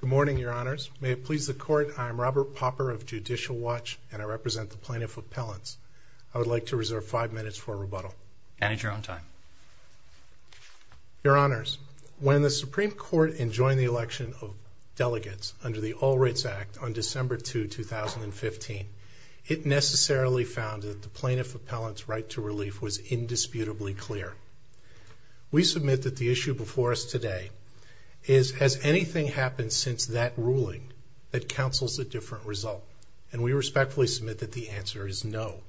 Good morning, Your Honors. May it please the Court, I am Robert Popper of Judicial Watch and I represent the Plaintiff Appellants. I would like to reserve five minutes for rebuttal. Manage your own time. Your Honors, when the Supreme Court enjoined the election of delegates under the All Rights Act on December 2, 2015, it necessarily found that the Plaintiff Appellant's right to relief was indisputably clear. We submit that the issue before us today is, has anything happened since that ruling that counsels a different result? And we respectfully submit that the answer is no.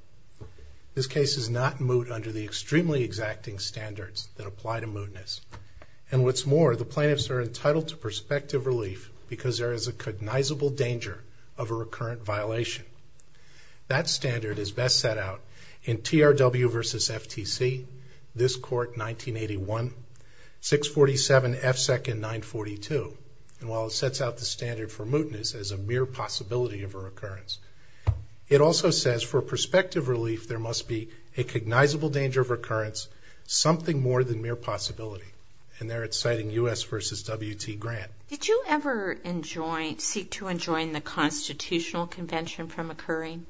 This case is not moot under the extremely exacting standards that apply to mootness. And what's more, the Plaintiffs are entitled to prospective relief because there is a cognizable danger of a recurrent violation. That standard is best set out in TRW v. FTC, this Court 1981, 647 F. Second 942. And while it sets out the standard for mootness as a mere possibility of a recurrence, it also says for prospective relief there must be a cognizable danger of recurrence, something more than mere possibility. And there it's citing U.S. v. W.T. Grant. Did you ever seek to enjoin the Constitutional Convention from occurring?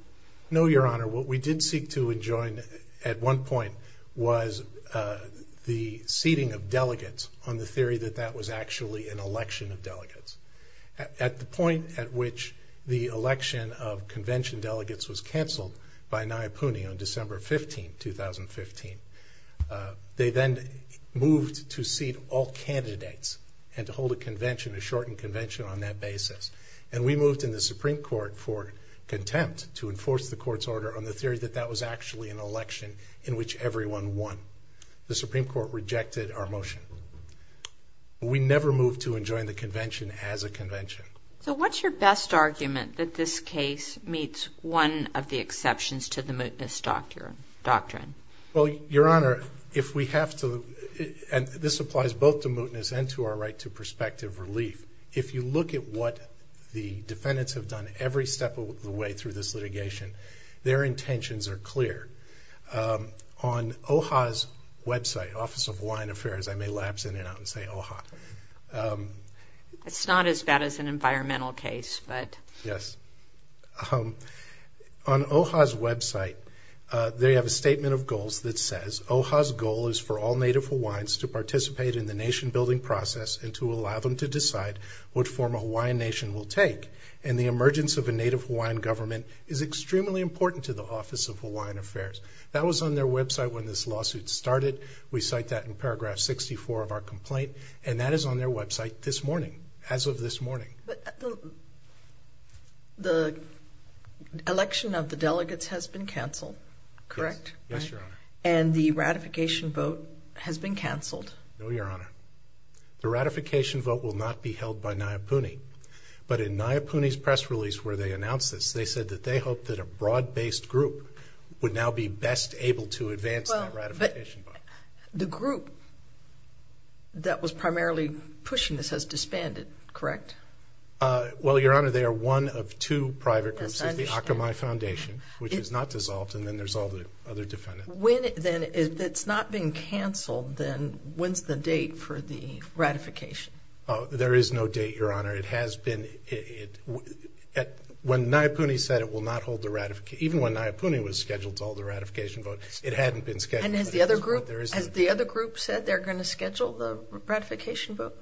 No, Your Honor. What we did seek to enjoin at one point was the seating of delegates on the theory that that was actually an election of delegates. At the point at which the election of convention delegates was canceled by Nayapuni on December 15, 2015, they then moved to seat all candidates and to hold a convention, a shortened convention on that basis. And we moved in the Supreme Court for contempt to enforce the Court's order on the theory that that was actually an election in which everyone won. The Supreme Court rejected our motion. We never moved to enjoin the convention as a convention. So what's your best argument that this case meets one of the exceptions to the mootness doctrine? Well, Your Honor, if we have to, and this applies both to mootness and to our right to prospective relief, if you look at what the defendants have done every step of the way through this litigation, their intentions are clear. On OHA's website, Office of Hawaiian Affairs, I may lapse in and out and say OHA. It's not as bad as an environmental case, but... Yes. On OHA's website, they have a statement of goals that says, OHA's goal is for all Native Hawaiians to participate in the nation-building process and to allow them to decide what form a Hawaiian nation will take. And the emergence of a Native Hawaiian government is extremely important to the Office of Hawaiian Affairs. That was on their website when this lawsuit started. We cite that in paragraph 64 of our complaint. And that is on their website this morning, as of this morning. But the election of the delegates has been canceled, correct? Yes, Your Honor. And the ratification vote has been canceled? No, Your Honor. The ratification vote will not be held by Niapuni. But in Niapuni's press release where they announced this, they said that they hoped that a broad-based group would now be best able to advance that ratification vote. The group that was primarily pushing this has disbanded, correct? Well, Your Honor, they are one of two private groups. Yes, I understand. It's the Akamai Foundation, which is not dissolved, and then there's all the other defendants. When, then, if it's not being canceled, then when's the date for the ratification? There is no date, Your Honor. It has been... When Niapuni said it will not hold the ratification, even when Niapuni was scheduled to hold the ratification vote, it hadn't been scheduled. And has the other group said they're going to schedule the ratification vote?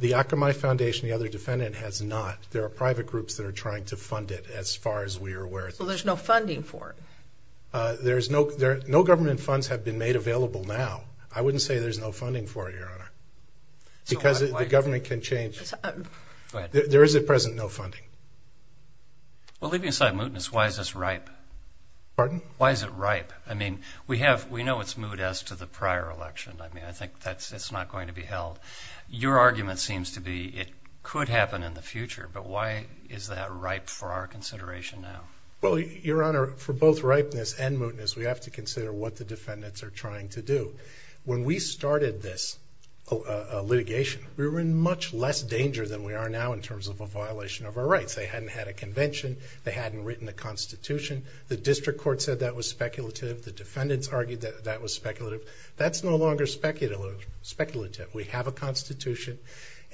The Akamai Foundation, the other defendant, has not. There are private groups that are trying to fund it, as far as we are aware. Well, there's no funding for it? No government funds have been made available now. I wouldn't say there's no funding for it, Your Honor, because the government can change. There is, at present, no funding. Well, leaving aside mootness, why is this ripe? Pardon? Why is it ripe? I mean, we have... We know it's moot as to the prior election. I mean, I think that's... It's not going to be held. Your argument seems to be it could happen in the future, but why is that ripe for our consideration now? Well, Your Honor, for both ripeness and mootness, we have to consider what the defendants are trying to do. When we started this litigation, we were in much less danger than we are now in terms of a violation of our rights. They hadn't had a convention. They hadn't written a constitution. The district court said that was speculative. The defendants argued that was speculative. That's no longer speculative. We have a constitution,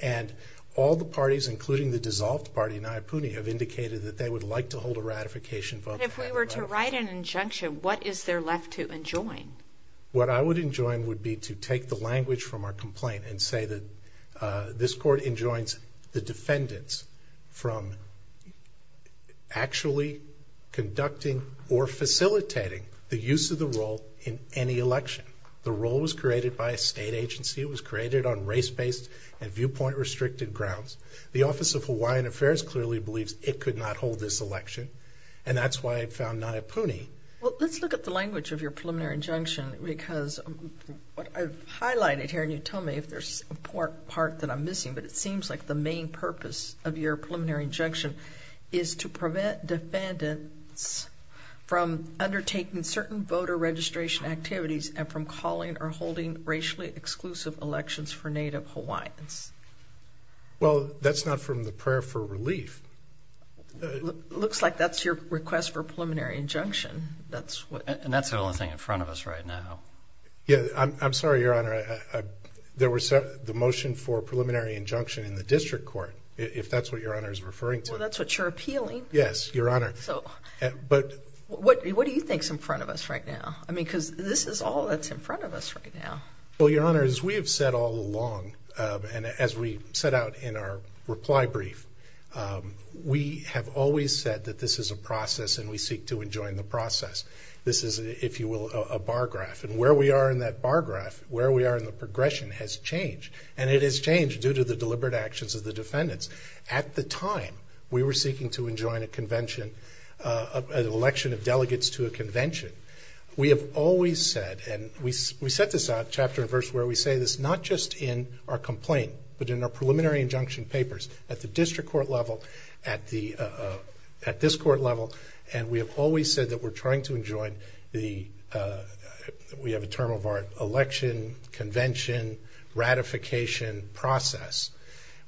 and all the parties, including the dissolved party, Nayapuni, have indicated that they would like to hold a ratification vote. But if we were to write an injunction, what is there left to enjoin? What I would enjoin would be to take the language from our complaint and say that this court enjoins the defendants from actually conducting or facilitating the use of the role in any election. The role was created by a state agency. It was created on race-based and viewpoint-restricted grounds. The Office of Hawaiian Affairs clearly believes it could not hold this election, and that's why I found Nayapuni... Well, let's look at the language of your preliminary injunction, because what I've highlighted here, and you tell me if there's a part that I'm missing, but it seems like the main purpose of your preliminary injunction is to prevent defendants from undertaking certain voter registration activities and from calling or holding racially exclusive elections for Native Hawaiians. Well, that's not from the prayer for relief. Looks like that's your request for preliminary injunction. And that's the only thing in front of us right now. Yeah, I'm sorry, Your Honor. There was the motion for preliminary injunction in the district court, if that's what Your Honor is referring to. Well, that's what you're appealing. Yes, Your Honor. So, what do you think is in front of us right now? I mean, because this is all that's in front of us right now. Well, Your Honor, as we have said all along, and as we set out in our reply brief, we have always said that this is a process and we seek to enjoin the process. This is, if you will, a bar graph. And where we are in that bar graph, where we are in the progression has changed. And it has changed due to the deliberate actions of the defendants. At the time we were seeking to enjoin a convention, an election of delegates to a convention, we have always said, and we set this out, chapter and verse where we say this, not just in our complaint, but in our preliminary injunction papers at the district court level, at this court level, and we have always said that we're trying to enjoin the, we have a term of our election, convention, ratification process,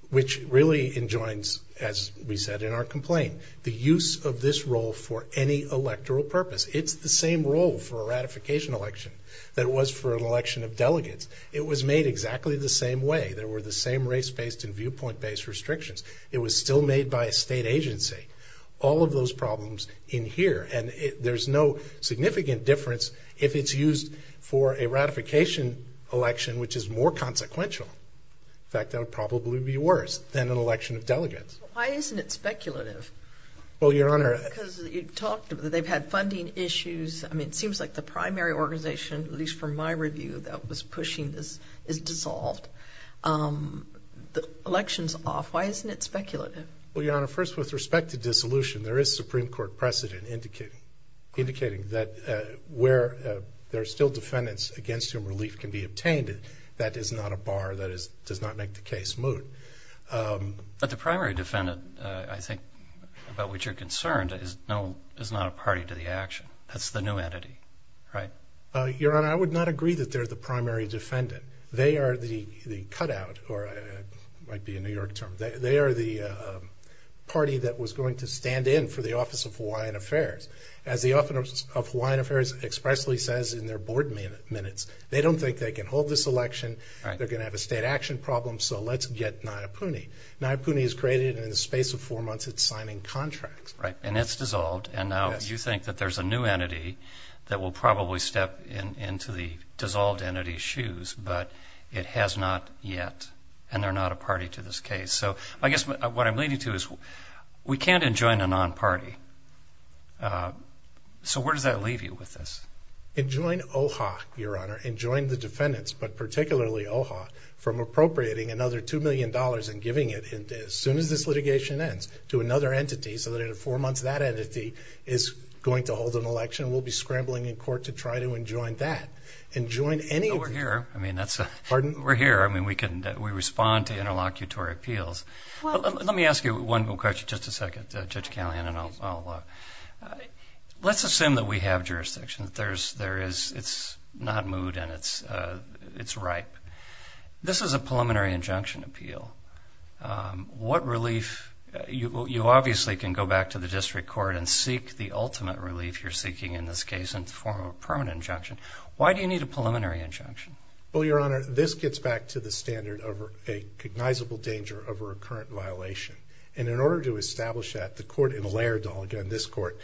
which really enjoins, as we said in our complaint, the use of this role for any electoral purpose. It's the same role for a ratification election that it was for an election of delegates. It was made exactly the same way. There were the same race-based and viewpoint-based restrictions. It was still made by a state agency. All of those problems in here. And there's no significant difference if it's used for a ratification election, which is more consequential. In fact, that would probably be worse than an election of delegates. Why isn't it speculative? Well, Your Honor... Because you've talked, they've had funding issues. I mean, it seems like the primary organization, at least from my review, that was pushing this is dissolved. The election's dissolved. Why isn't it speculative? Well, Your Honor, first, with respect to dissolution, there is Supreme Court precedent indicating that where there are still defendants against whom relief can be obtained, that is not a bar, that does not make the case moot. But the primary defendant, I think, about which you're concerned, is not a party to the action. That's the new entity, right? Your Honor, I would not agree that they're the primary defendant. They are the cutout, or it might be a New York term, they are the party that was going to stand in for the Office of Hawaiian Affairs. As the Office of Hawaiian Affairs expressly says in their board minutes, they don't think they can hold this election, they're going to have a state action problem, so let's get Nayapuni. Nayapuni is created, and in the space of four months, it's signing contracts. And it's dissolved, and now you think that there's a new entity that will probably step into the dissolved entity's shoes, but it has not yet, and they're not a party to this case. So I guess what I'm leading to is, we can't enjoin a non-party. So where does that leave you with this? Enjoin OHA, Your Honor. Enjoin the defendants, but particularly OHA, from appropriating another $2 million and giving it, as soon as this litigation ends, to another entity, so that in four months, that entity is going to hold an election. We'll be scrambling in court to try to enjoin that, and join any of these... Well, we're here, I mean, we're here. I mean, we can, we respond to interlocutory appeals. Let me ask you one question, just a second, Judge Callahan, and I'll... Let's assume that we have jurisdiction, that there is, it's not moved, and it's ripe. This is a preliminary injunction appeal. What relief, you obviously can go back to the district court and seek the ultimate relief you're seeking, in this case, in the form of a permanent injunction. Why do you need a preliminary injunction? Well, Your Honor, this gets back to the standard of a cognizable danger of a recurrent violation. And in order to establish that, the court in Laird, again, this court,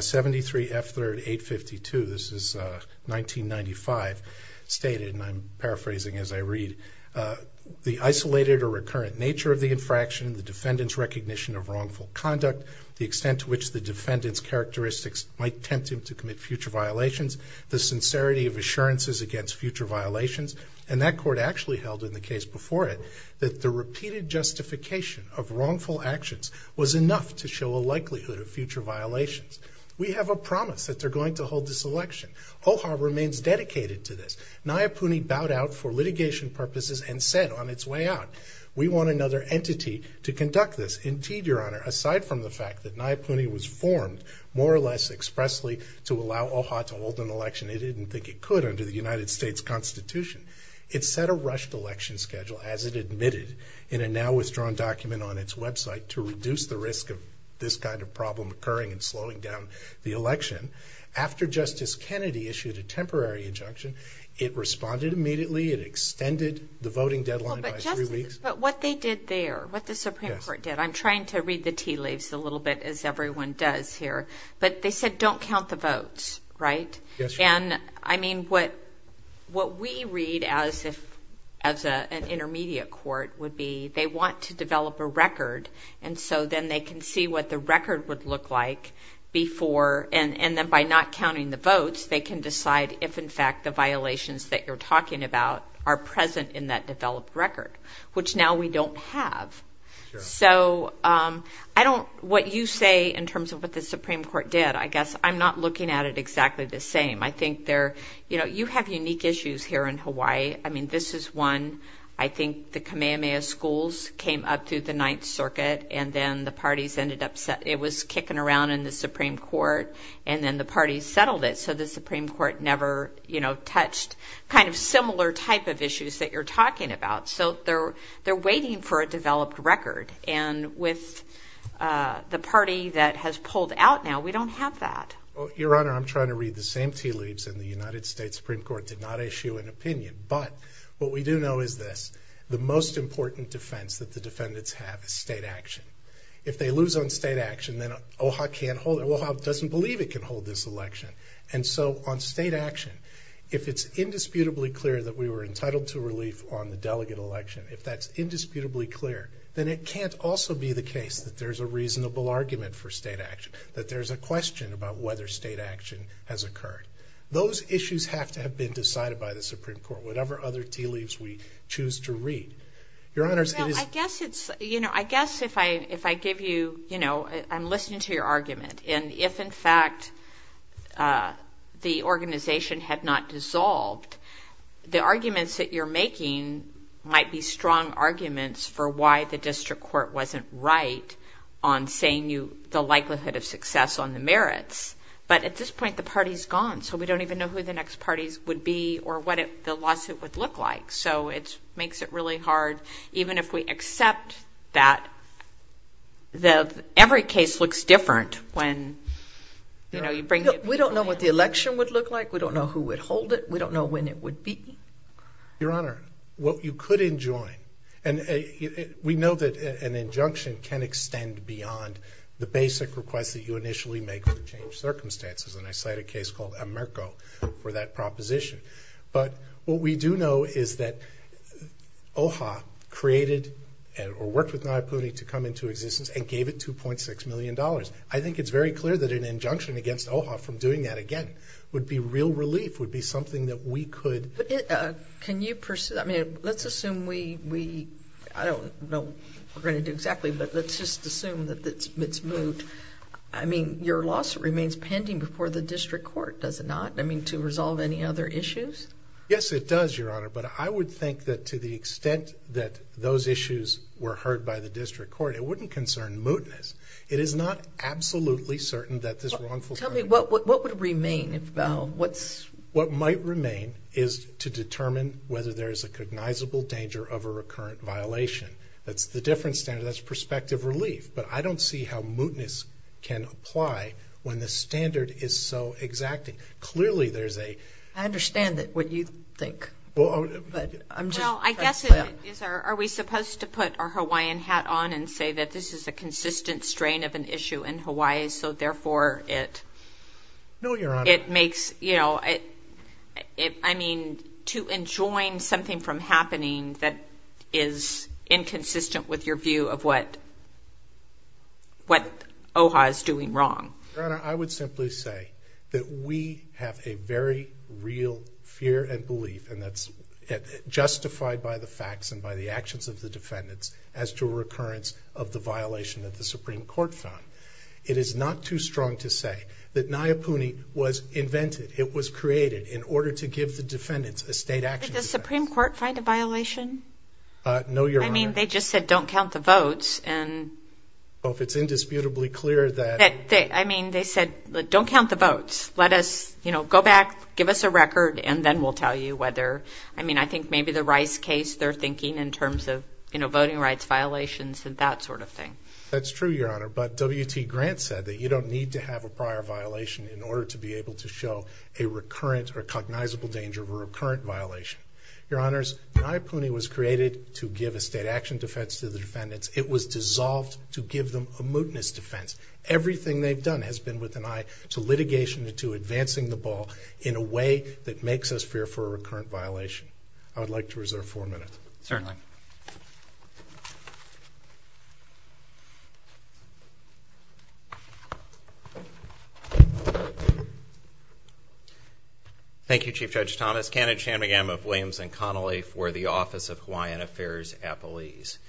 73 F. 3rd 852, this is 1995, stated, and I'm paraphrasing as I read, the isolated or recurrent nature of the infraction, the defendant's recognition of wrongful conduct, the extent to which the defendant's characteristics might tempt him to commit future violations, the sincerity of assurances against future violations, and that court actually held in the case before it that the repeated justification of wrongful actions was enough to show a likelihood of future violations. We have a promise that they're going to hold this election. OHA remains dedicated to this. Nayapuni bowed out for litigation purposes and said on its way out, we want another entity to conduct this. Indeed, Your Honor, aside from the fact that Nayapuni was formed more or less expressly to allow OHA to hold an election it didn't think it could under the United States Constitution. It set a rushed election schedule, as it admitted, in a now-withdrawn document on its website, to reduce the risk of this kind of problem occurring and slowing down the election. After Justice Kennedy issued a temporary injunction, it responded immediately. It extended the voting deadline by three weeks. But what they did there, what the Supreme Court did, I'm trying to read the tea leaves a little bit as everyone does here, but they said don't count the votes, right? Yes, Your Honor. What we read as an intermediate court would be they want to develop a record, and so then they can see what the record would look like before, and then by not counting the votes, they can decide if, in fact, the violations that you're talking about are present in that developed record, which now we don't have. So I don't, what you say in terms of what the Supreme Court did, I guess I'm not looking at it exactly the same. I think they're, you know, you have unique issues here in Hawaii. I mean, this is one, I think the Kamehameha schools came up through the Ninth Circuit, and then the parties ended up, it was kicking around in the Supreme Court, and then the parties settled it, so the Supreme Court never, you know, touched kind of similar type of issues that you're talking about. So they're waiting for a developed record, and with the party that has pulled out now, we don't have that. Your Honor, I'm trying to read the same tea leaves, and the United States Supreme Court did not issue an opinion, but what we do know is this. The most important defense that the doesn't believe it can hold this election, and so on state action, if it's indisputably clear that we were entitled to relief on the delegate election, if that's indisputably clear, then it can't also be the case that there's a reasonable argument for state action, that there's a question about whether state action has occurred. Those issues have to have been decided by the Supreme Court, whatever other tea leaves we choose to read. Your Honor, I guess it's, you know, I guess if I give you, you know, I'm listening to your argument, and if in fact the organization had not dissolved, the arguments that you're making might be strong arguments for why the district court wasn't right on saying the likelihood of success on the merits, but at this point, the party's gone, so we don't even know who the next parties would be or what the lawsuit would look like, so it makes it really hard, even if we accept that every case looks different when, you know, you bring it. We don't know what the election would look like. We don't know who would hold it. We don't know when it would be. Your Honor, what you could enjoin, and we know that an injunction can extend beyond the basic request that you initially make for a case called Amerco for that proposition, but what we do know is that OHA created or worked with Nayaputi to come into existence and gave it 2.6 million dollars. I think it's very clear that an injunction against OHA from doing that again would be real relief, would be something that we could... Can you pursue, I mean, let's assume we, I don't know we're going to do exactly, but let's just assume that it's moot. I mean, your lawsuit remains pending before the district court, does it not? I mean, to resolve any other issues? Yes, it does, Your Honor, but I would think that to the extent that those issues were heard by the district court, it wouldn't concern mootness. It is not absolutely certain that this wrongful... Tell me, what would remain? What might remain is to determine whether there is a cognizable danger of a recurrent violation. That's the different standard, that's perspective relief, but I don't see how mootness can apply when the standard is so exacting. Clearly there's a... I understand what you think, but I'm just... Well, I guess it is, are we supposed to put our Hawaiian hat on and say that this is a consistent strain of an issue in Hawaii, so therefore it... No, Your Honor. It makes, you know, I mean, to enjoin something from happening that is inconsistent with your view of what OHA is doing wrong. Your Honor, I would simply say that we have a very real fear and belief, and that's justified by the facts and by the actions of the defendants, as to a recurrence of the violation that the Supreme Court found. It is not too strong to say that Nayapuni was created in order to give the defendants a state action defense. Did the Supreme Court find a violation? No, Your Honor. I mean, they just said, don't count the votes, and... Well, if it's indisputably clear that... I mean, they said, don't count the votes. Let us, you know, go back, give us a record, and then we'll tell you whether... I mean, I think maybe the Rice case, they're thinking in terms of, you know, voting rights violations and that sort of thing. That's true, Your Honor, but W.T. Grant said that you don't need to have a prior violation in order to be able to show a recurrent or cognizable danger of a recurrent violation. Your Honors, Nayapuni was created to give a state action defense to the defendants. It was dissolved to give them a mootness defense. Everything they've done has been with an eye to litigation and to advancing the ball in a way that makes us fear for a recurrent violation. I would like to reserve four minutes. Certainly. Thank you, Chief Judge Thomas, candidate Shanmugam of Williams and Connolly for the Office of Hawaiian Affairs at Belize.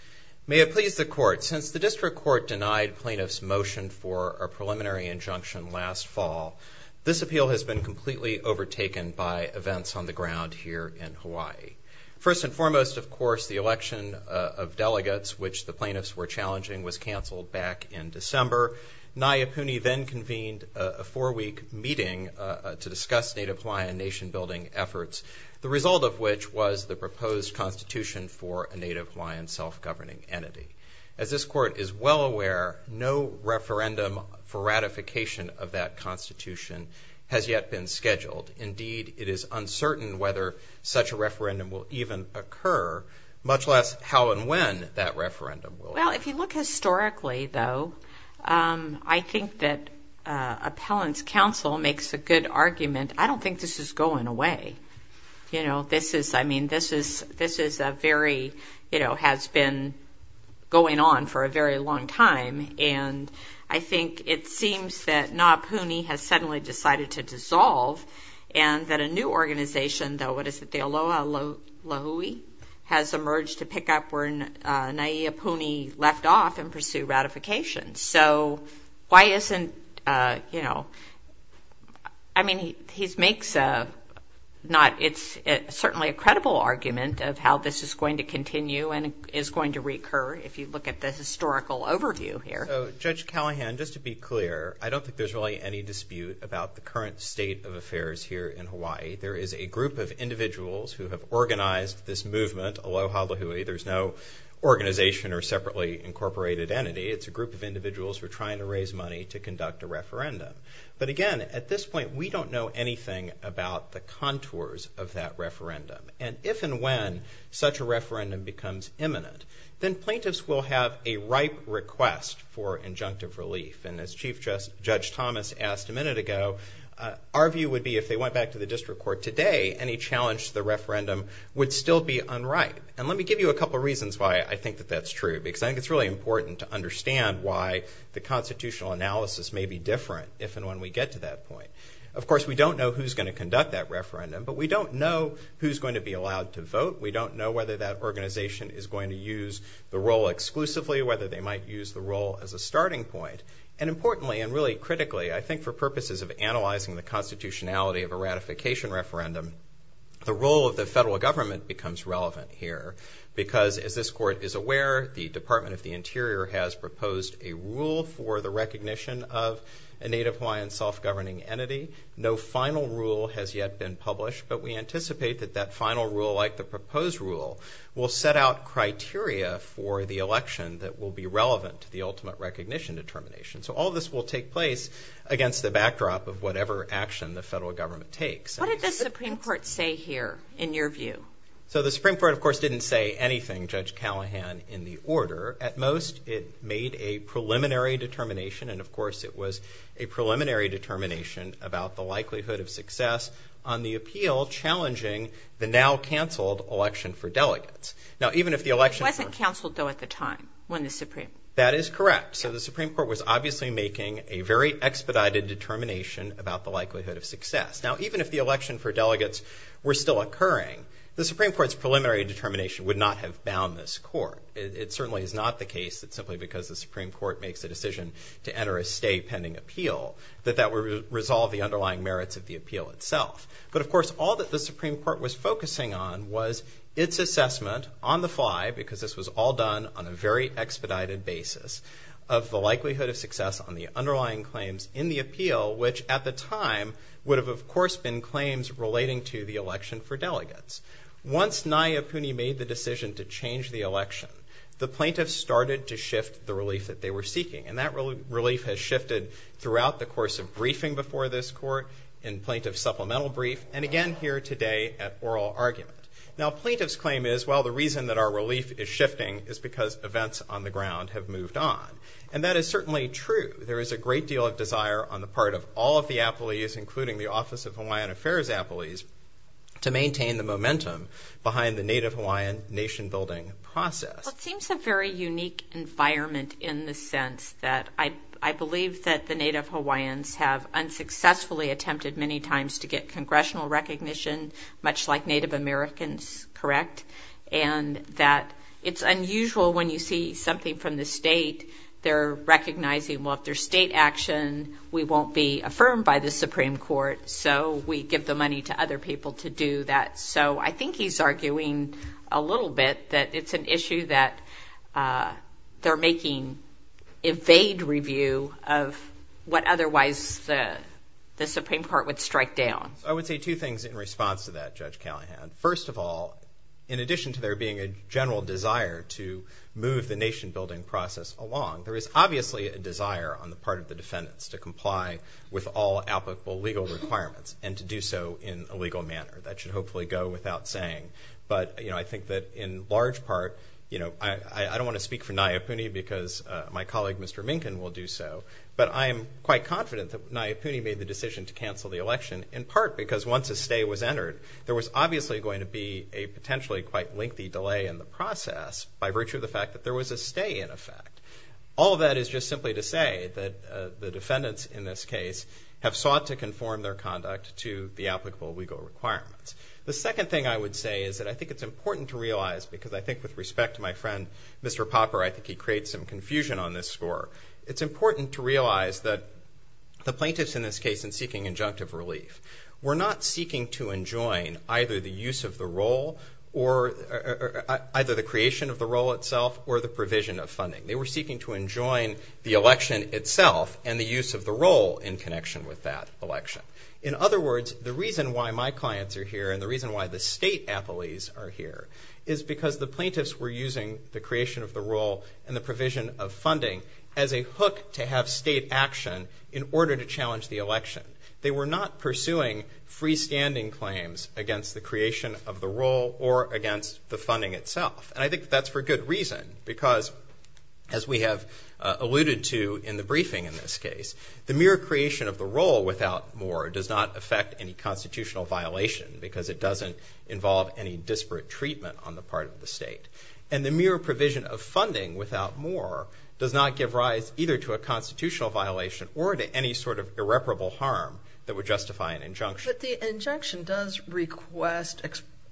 May it please the Court, since the District Court denied plaintiffs' motion for a preliminary injunction last fall, this appeal has been completely overtaken by events on the ground here in Hawaii. First and foremost, of course, the election of delegates, which the plaintiffs were challenging, was canceled back in December. Nayapuni then convened a four-week meeting to discuss Native Hawaiian nation-building efforts, the result of which was the proposed constitution for a Native Hawaiian self-governing entity. As this Court is well aware, no referendum for ratification of that constitution has yet been scheduled. Indeed, it is uncertain whether such a referendum will even occur, much less how and when that referendum will occur. Well, if you look historically, though, I think that Appellant's counsel makes a good argument. I don't think this is going away. You know, this is, I mean, this is, this is a very, you know, has been going on for a very long time, and I think it seems that Nayapuni has suddenly decided to dissolve, and that a new organization, though, what is it, the Aloha Lahui, has emerged to pick up where Nayapuni left off and pursue ratification. So, why isn't, you know, I mean, he's makes a, not, it's certainly a credible argument of how this is going to continue and is going to recur if you look at the historical overview here. So, Judge Callahan, just to be clear, I don't think there's really any dispute about the current state of affairs here in Hawaii. There is a group of individuals who have organized this movement, Aloha Lahui. There's no organization or separately incorporated entity. It's a group of individuals who are trying to raise money to conduct a referendum. But again, at this point, we don't know anything about the contours of that referendum, and if and when such a referendum becomes imminent, then plaintiffs will have a ripe request for injunctive relief. And as Chief Judge Thomas asked a minute ago, our view would be if they went back to the district court today, any challenge to the referendum would still be unripe. And let me give you a couple reasons why I think that that's true, because I think it's really important to understand why the constitutional analysis may be different if and when we get to that point. Of course, we don't know who's going to conduct that referendum, but we don't know who's going to be allowed to vote. We don't know whether that the role exclusively, whether they might use the role as a starting point. And importantly, and really critically, I think for purposes of analyzing the constitutionality of a ratification referendum, the role of the federal government becomes relevant here. Because as this court is aware, the Department of the Interior has proposed a rule for the recognition of a Native Hawaiian self-governing entity. No final rule has yet been published, but we anticipate that that final rule, like the proposed rule, will set out criteria for the election that will be relevant to the ultimate recognition determination. So all this will take place against the backdrop of whatever action the federal government takes. What did the Supreme Court say here, in your view? So the Supreme Court, of course, didn't say anything, Judge Callahan, in the order. At most, it made a preliminary determination, and of course, it was a preliminary determination about the likelihood of success on the appeal challenging the now-canceled election for delegates. Now, even if the election... It wasn't canceled, though, at the time, when the Supreme... That is correct. So the Supreme Court was obviously making a very expedited determination about the likelihood of success. Now, even if the election for delegates were still occurring, the Supreme Court's preliminary determination would not have bound this court. It certainly is not the case that simply because the Supreme Court makes a decision to enter a stay pending appeal, that that would resolve the appeal itself. But of course, all that the Supreme Court was focusing on was its assessment, on the fly, because this was all done on a very expedited basis, of the likelihood of success on the underlying claims in the appeal, which at the time would have, of course, been claims relating to the election for delegates. Once Nayyipuni made the decision to change the election, the plaintiffs started to shift the relief that they were seeking. And that relief has shifted throughout the course of briefing before this court, in plaintiff supplemental brief, and again here today at oral argument. Now, plaintiff's claim is, well, the reason that our relief is shifting is because events on the ground have moved on. And that is certainly true. There is a great deal of desire on the part of all of the appellees, including the Office of Hawaiian Affairs appellees, to maintain the momentum behind the Native Hawaiian nation-building process. It seems a very unique environment in the sense that I believe that the Native Hawaiians have unsuccessfully attempted many times to get congressional recognition, much like Native Americans, correct? And that it's unusual when you see something from the state, they're recognizing, well, if there's state action, we won't be affirmed by the Supreme Court, so we give the money to other people to do that. So I think he's arguing a little bit that it's an issue that they're making evade review of what otherwise the Supreme Court would strike down. I would say two things in response to that, Judge Callahan. First of all, in addition to there being a general desire to move the nation-building process along, there is obviously a desire on the part of the defendants to comply with all applicable requirements and to do so in a legal manner. That should hopefully go without saying. But I think that in large part, I don't want to speak for Nayapuni because my colleague, Mr. Minkin, will do so, but I am quite confident that Nayapuni made the decision to cancel the election in part because once a stay was entered, there was obviously going to be a potentially quite lengthy delay in the process by virtue of the fact that there was a stay in effect. All of that is just simply to say that the defendants in this case have sought to conform their conduct to the applicable legal requirements. The second thing I would say is that I think it's important to realize because I think with respect to my friend, Mr. Popper, I think he creates some confusion on this score. It's important to realize that the plaintiffs in this case in seeking injunctive relief were not seeking to enjoin either the use of the role or either the creation of the role. They were seeking to enjoin the election itself and the use of the role in connection with that election. In other words, the reason why my clients are here and the reason why the state appellees are here is because the plaintiffs were using the creation of the role and the provision of funding as a hook to have state action in order to challenge the election. They were not pursuing freestanding claims against the creation of the role or against the funding itself. And I think that's for good reason because, as we have alluded to in the briefing in this case, the mere creation of the role without more does not affect any constitutional violation because it doesn't involve any disparate treatment on the part of the state. And the mere provision of funding without more does not give rise either to a constitutional violation or to any sort of irreparable harm that would justify an injunction. But the injunction does request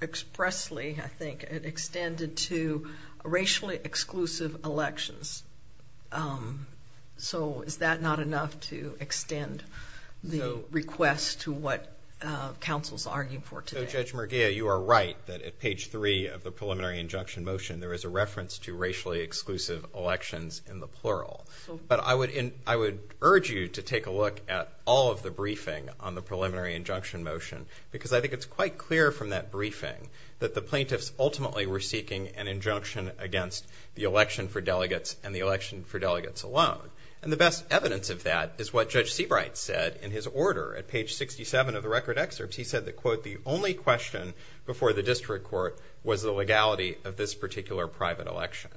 expressly, I think, extended to racially exclusive elections. So is that not enough to extend the request to what counsel's arguing for today? So Judge Merguia, you are right that at page three of the preliminary injunction motion, there is a reference to racially exclusive elections in the plural. But I would urge you to take a look at all of the briefing on the preliminary injunction motion because I think it's quite clear from that briefing that the plaintiffs ultimately were seeking an injunction against the election for delegates and the election for delegates alone. And the best evidence of that is what Judge Seabright said in his order at page 67 of the record excerpts. He said that, quote, the only question before the district court was the legality of this particular private election.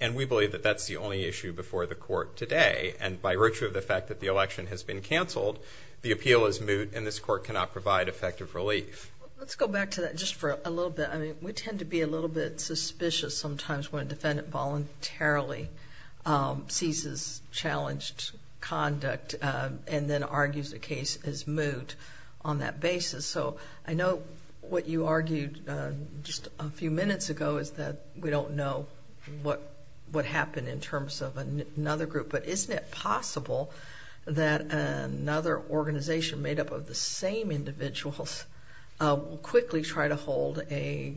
And we believe that that's the only issue before the court today. And by virtue of the fact that the election has been canceled, the appeal is effective relief. Let's go back to that just for a little bit. I mean, we tend to be a little bit suspicious sometimes when a defendant voluntarily ceases challenged conduct and then argues the case is moot on that basis. So I know what you argued just a few minutes ago is that we don't know what happened in terms of another group. But isn't it possible that another organization made up of the same individuals will quickly try to hold a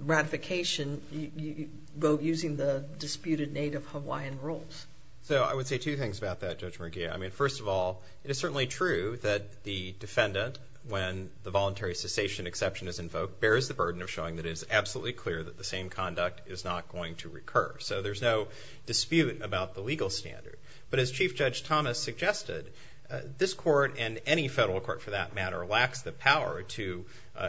ratification vote using the disputed Native Hawaiian rules? So I would say two things about that, Judge Murgia. I mean, first of all, it is certainly true that the defendant, when the voluntary cessation exception is invoked, bears the burden of showing that it is absolutely clear that the same conduct is not going to recur. So there's no dispute about the legal standard. But as Chief Judge Thomas suggested, this court, and any federal court for that matter, lacks the power to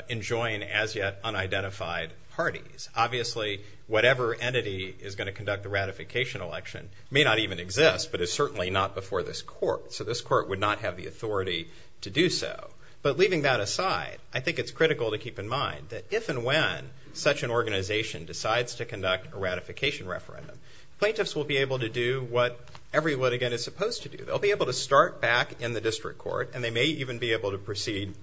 enjoin as yet unidentified parties. Obviously, whatever entity is going to conduct the ratification election may not even exist, but it's certainly not before this court. So this court would not have the authority to do so. But leaving that aside, I think it's critical to keep in mind that if and when such an organization decides to conduct a ratification referendum, plaintiffs will be back in the district court, and they may even be able to proceed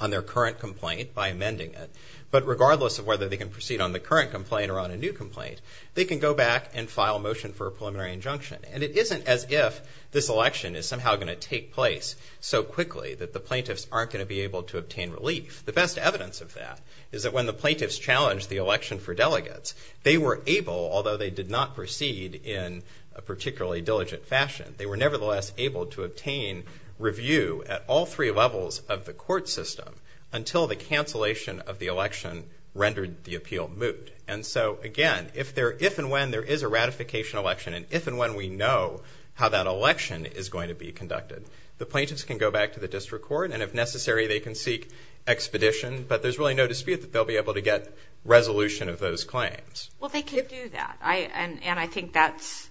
on their current complaint by amending it. But regardless of whether they can proceed on the current complaint or on a new complaint, they can go back and file motion for a preliminary injunction. And it isn't as if this election is somehow going to take place so quickly that the plaintiffs aren't going to be able to obtain relief. The best evidence of that is that when the plaintiffs challenged the election for delegates, they were able, although they did not proceed in a particularly diligent fashion, they were nevertheless able to obtain review at all three levels of the court system until the cancellation of the election rendered the appeal moot. And so again, if and when there is a ratification election, and if and when we know how that election is going to be conducted, the plaintiffs can go back to the district court, and if necessary, they can seek expedition. But there's really no dispute that they'll be able to get resolution of those claims. Well, they could do that. And I think that's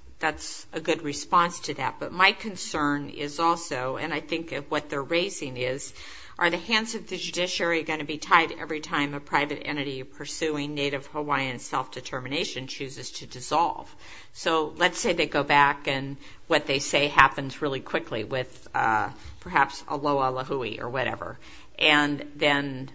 a good response to that. But my concern is also, and I think what they're raising is, are the hands of the judiciary going to be tied every time a private entity pursuing Native Hawaiian self-determination chooses to dissolve? So let's say they go back, and what they say happens really quickly with perhaps a loa lahui or whatever. And then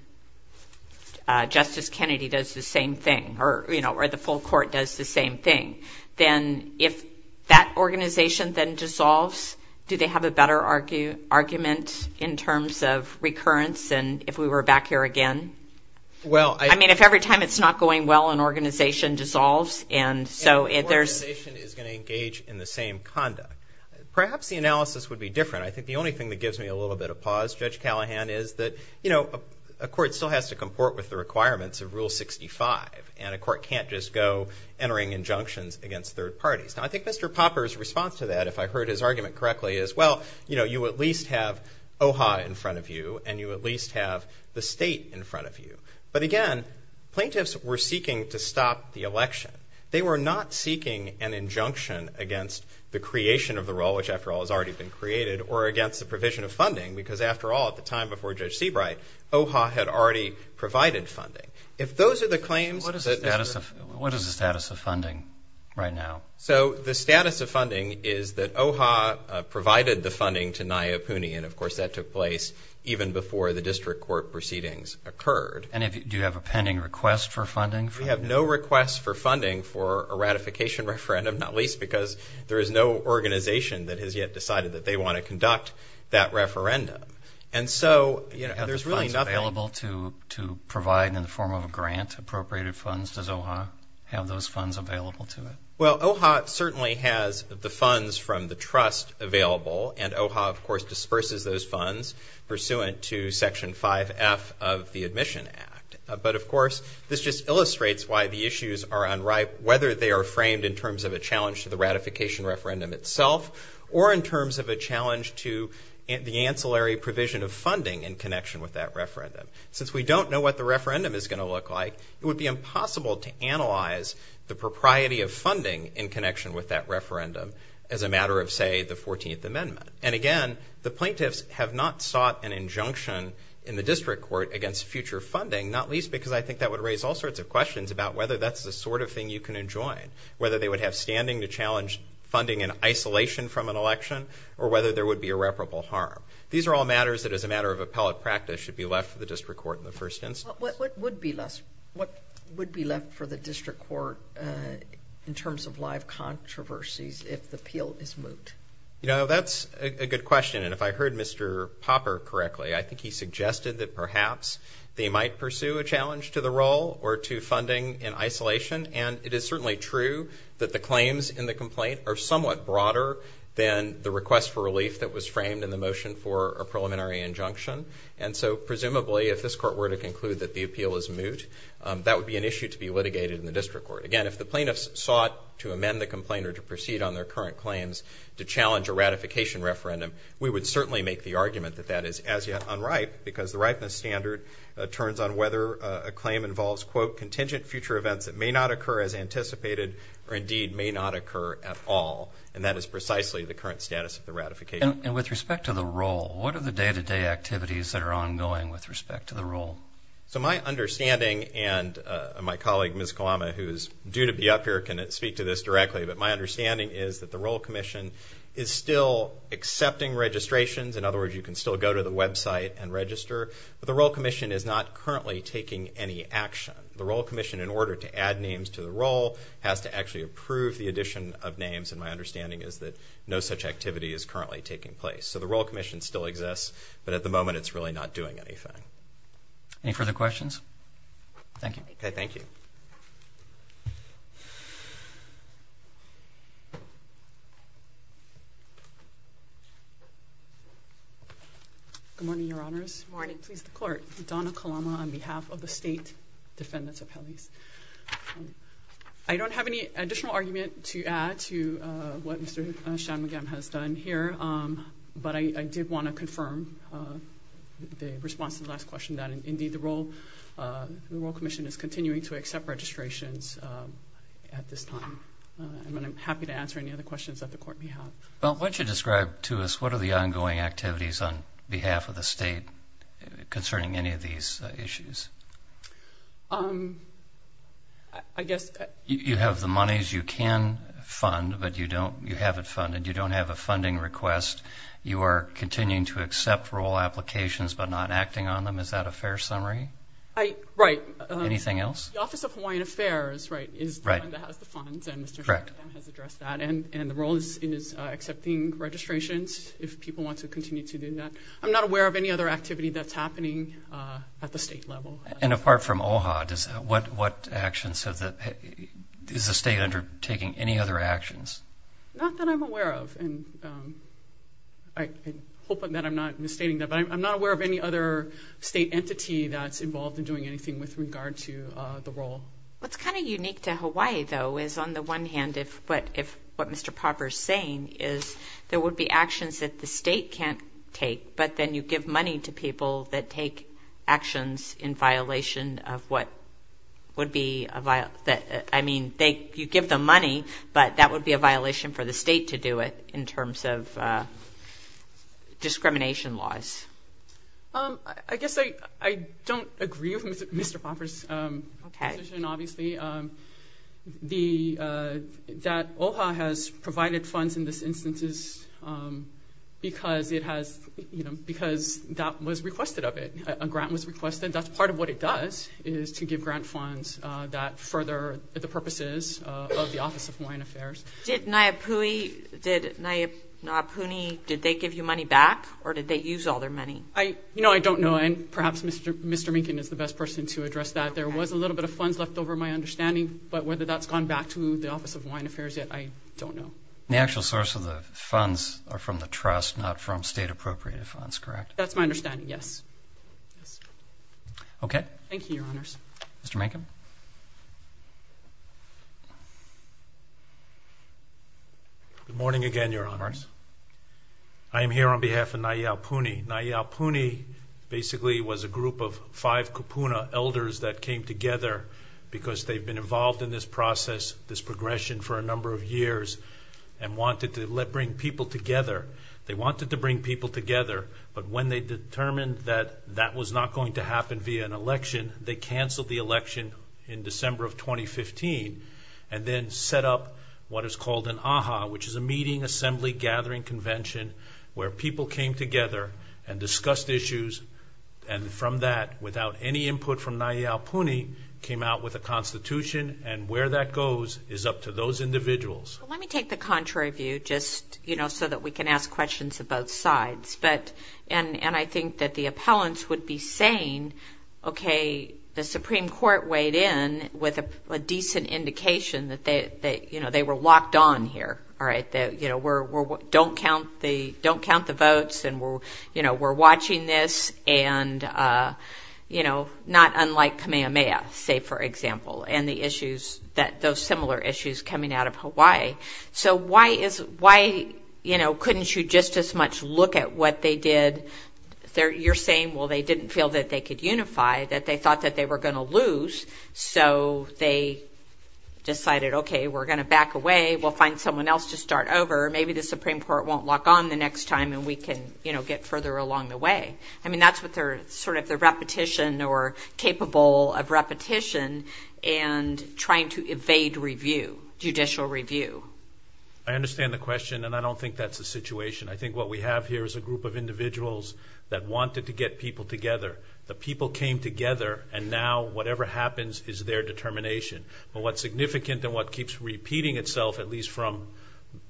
Justice Kennedy does the same thing, or, you know, or the full court does the same thing. Then if that organization then dissolves, do they have a better argument in terms of recurrence? And if we were back here again? Well, I mean, if every time it's not going well, an organization dissolves, and so if there's... An organization is going to engage in the same conduct. Perhaps the analysis would be different. I think the only thing that gives me a little bit of pause, Judge Callahan, is that, you know, a court still has to comport with the requirements of Rule 65, and a court can't just go entering injunctions against third parties. Now, I think Mr. Popper's response to that, if I heard his argument correctly, is, well, you know, you at least have OHA in front of you, and you at least have the state in front of you. But again, plaintiffs were seeking to stop the election. They were not seeking an injunction against the creation of the rule, which after all has already been created, or against the provision of funding, because after all, at the time before Judge Seabright, OHA had already provided funding. If those are the claims... What is the status of funding right now? So, the status of funding is that OHA provided the funding to NAIA PUNI, and of course that took place even before the district court proceedings occurred. And do you have a pending request for funding? We have no request for funding for a ratification referendum, not least because there is no organization that has yet decided that they want to conduct that referendum. And so, you know, there's really nothing... Do you have the funds available to provide in the form of a grant, appropriated funds? Does OHA have those funds available to it? Well, OHA certainly has the funds from the trust available, and OHA, of course, disperses those funds pursuant to Section 5F of the Admission Act. But of course, this just illustrates why the issues are unripe, whether they are framed in terms of a challenge to the ratification referendum itself, or in terms of a challenge to the ancillary provision of funding in connection with that referendum. Since we don't know what the referendum is going to look like, it would be impossible to analyze the propriety of funding in connection with that referendum as a matter of, say, the 14th Amendment. And again, the plaintiffs have not sought an injunction in the district court against future funding, not least because I think that would raise all sorts of questions about whether that's the sort of thing you can enjoin. Whether they would have standing to challenge funding in isolation from an irreparable harm. These are all matters that, as a matter of appellate practice, should be left for the district court in the first instance. What would be left for the district court in terms of live controversies if the appeal is moot? You know, that's a good question. And if I heard Mr. Popper correctly, I think he suggested that perhaps they might pursue a challenge to the role or to funding in isolation. And it is certainly true that the claims in the complaint are somewhat broader than the request for relief that was framed in the motion for a preliminary injunction. And so, presumably, if this court were to conclude that the appeal is moot, that would be an issue to be litigated in the district court. Again, if the plaintiffs sought to amend the complaint or to proceed on their current claims to challenge a ratification referendum, we would certainly make the argument that that is as yet unripe because the ripeness standard turns on whether a claim involves, quote, contingent future events that may not occur as anticipated or indeed may not occur at all. And that is precisely the current status of the ratification. And with respect to the role, what are the day-to-day activities that are ongoing with respect to the role? So my understanding, and my colleague, Ms. Kalama, who is due to be up here, can speak to this directly, but my understanding is that the Role Commission is still accepting registrations. In other words, you can still go to the website and register. But the Role Commission is not currently taking any action. The Role Commission, in order to add names to the role, has to actually approve the addition of names, and my understanding is that no such activity is currently taking place. So the Role Commission still exists, but at the moment it's really not doing anything. Any further questions? Thank you. Okay, thank you. Good morning, Your Honors. Good morning. Please, the Court. Donna Kalama on behalf of the State Defendants' Appellees. I don't have any additional argument to add to what Mr. Shanmugam has done here, but I did want to confirm the response to the last question, that indeed the Role Commission is continuing to accept registrations at this time. And I'm happy to answer any other questions that the Court may have. Well, why don't you describe to us what are the ongoing activities on behalf of the State concerning any of these issues? I guess... You have the monies you can fund, but you don't, you haven't funded. You don't have a funding request. You are continuing to accept role applications, but not acting on them. Is that a fair summary? Right. Anything else? The Office of Hawaiian Affairs, right, is the one that has the funds, and Mr. Shanmugam has addressed that. And the role is accepting registrations, if people want to continue to do that. I'm not aware of any other activity that's happening at the state level. And apart from OHA, what actions, is the state undertaking any other actions? Not that I'm aware of, and I hope that I'm not misstating that, but I'm not aware of any other state entity that's involved in doing anything with regard to the role. What's kind of unique to Hawaii, though, is on the one hand, what Mr. Popper's saying is there would be actions that the state can't take, but then you give money to people that take actions in violation of what would be a... I mean, you give them money, but that would be a violation for the state to do it, in terms of discrimination laws. I guess I don't agree with that. I don't know. And perhaps Mr. Minkin is the best person to address that. There was a little bit of funds left over, my understanding, but whether that's gone back to the Office of Hawaiian Affairs, the funds are from the trust, not from state appropriated funds, correct? That's my understanding, yes. Thank you, Your Honors. Mr. Minkin. Good morning again, Your Honors. I am here on behalf of Nia Puni. Nia Puni, basically, was a group of five kupuna elders that came together because they've been involved in this progression for a number of years and wanted to bring people together. They wanted to bring people together, but when they determined that that was not going to happen via an election, they canceled the election in December of 2015, and then set up what is called an AHA, which is a meeting assembly gathering convention, where people came together and discussed issues, and from that, without any input from Nia Puni, came out with a constitution, and where that goes is up to those individuals. Let me take the contrary view, just so that we can ask questions of both sides, and I think that the appellants would be saying, okay, the Supreme Court weighed in with a decent indication that they were locked on here, all right? Don't count the votes, and we're watching this, and not unlike Kamehameha, say, for example, and those similar issues coming out of Hawaii, so why couldn't you just as much look at what they did? You're saying, well, they didn't feel that they could unify, that they thought that they were going to lose, so they decided, okay, we're going to back away. We'll find someone else to start over. Maybe the Supreme Court won't lock on the next time, and we can, you know, get further along the way. I mean, that's what they're, sort of, the repetition, or capable of repetition, and trying to evade review, judicial review. I understand the question, and I don't think that's the situation. I think what we have here is a group of individuals that wanted to get people together. The people came together, and now whatever happens is their determination, but what's significant, and what keeps repeating itself, at least from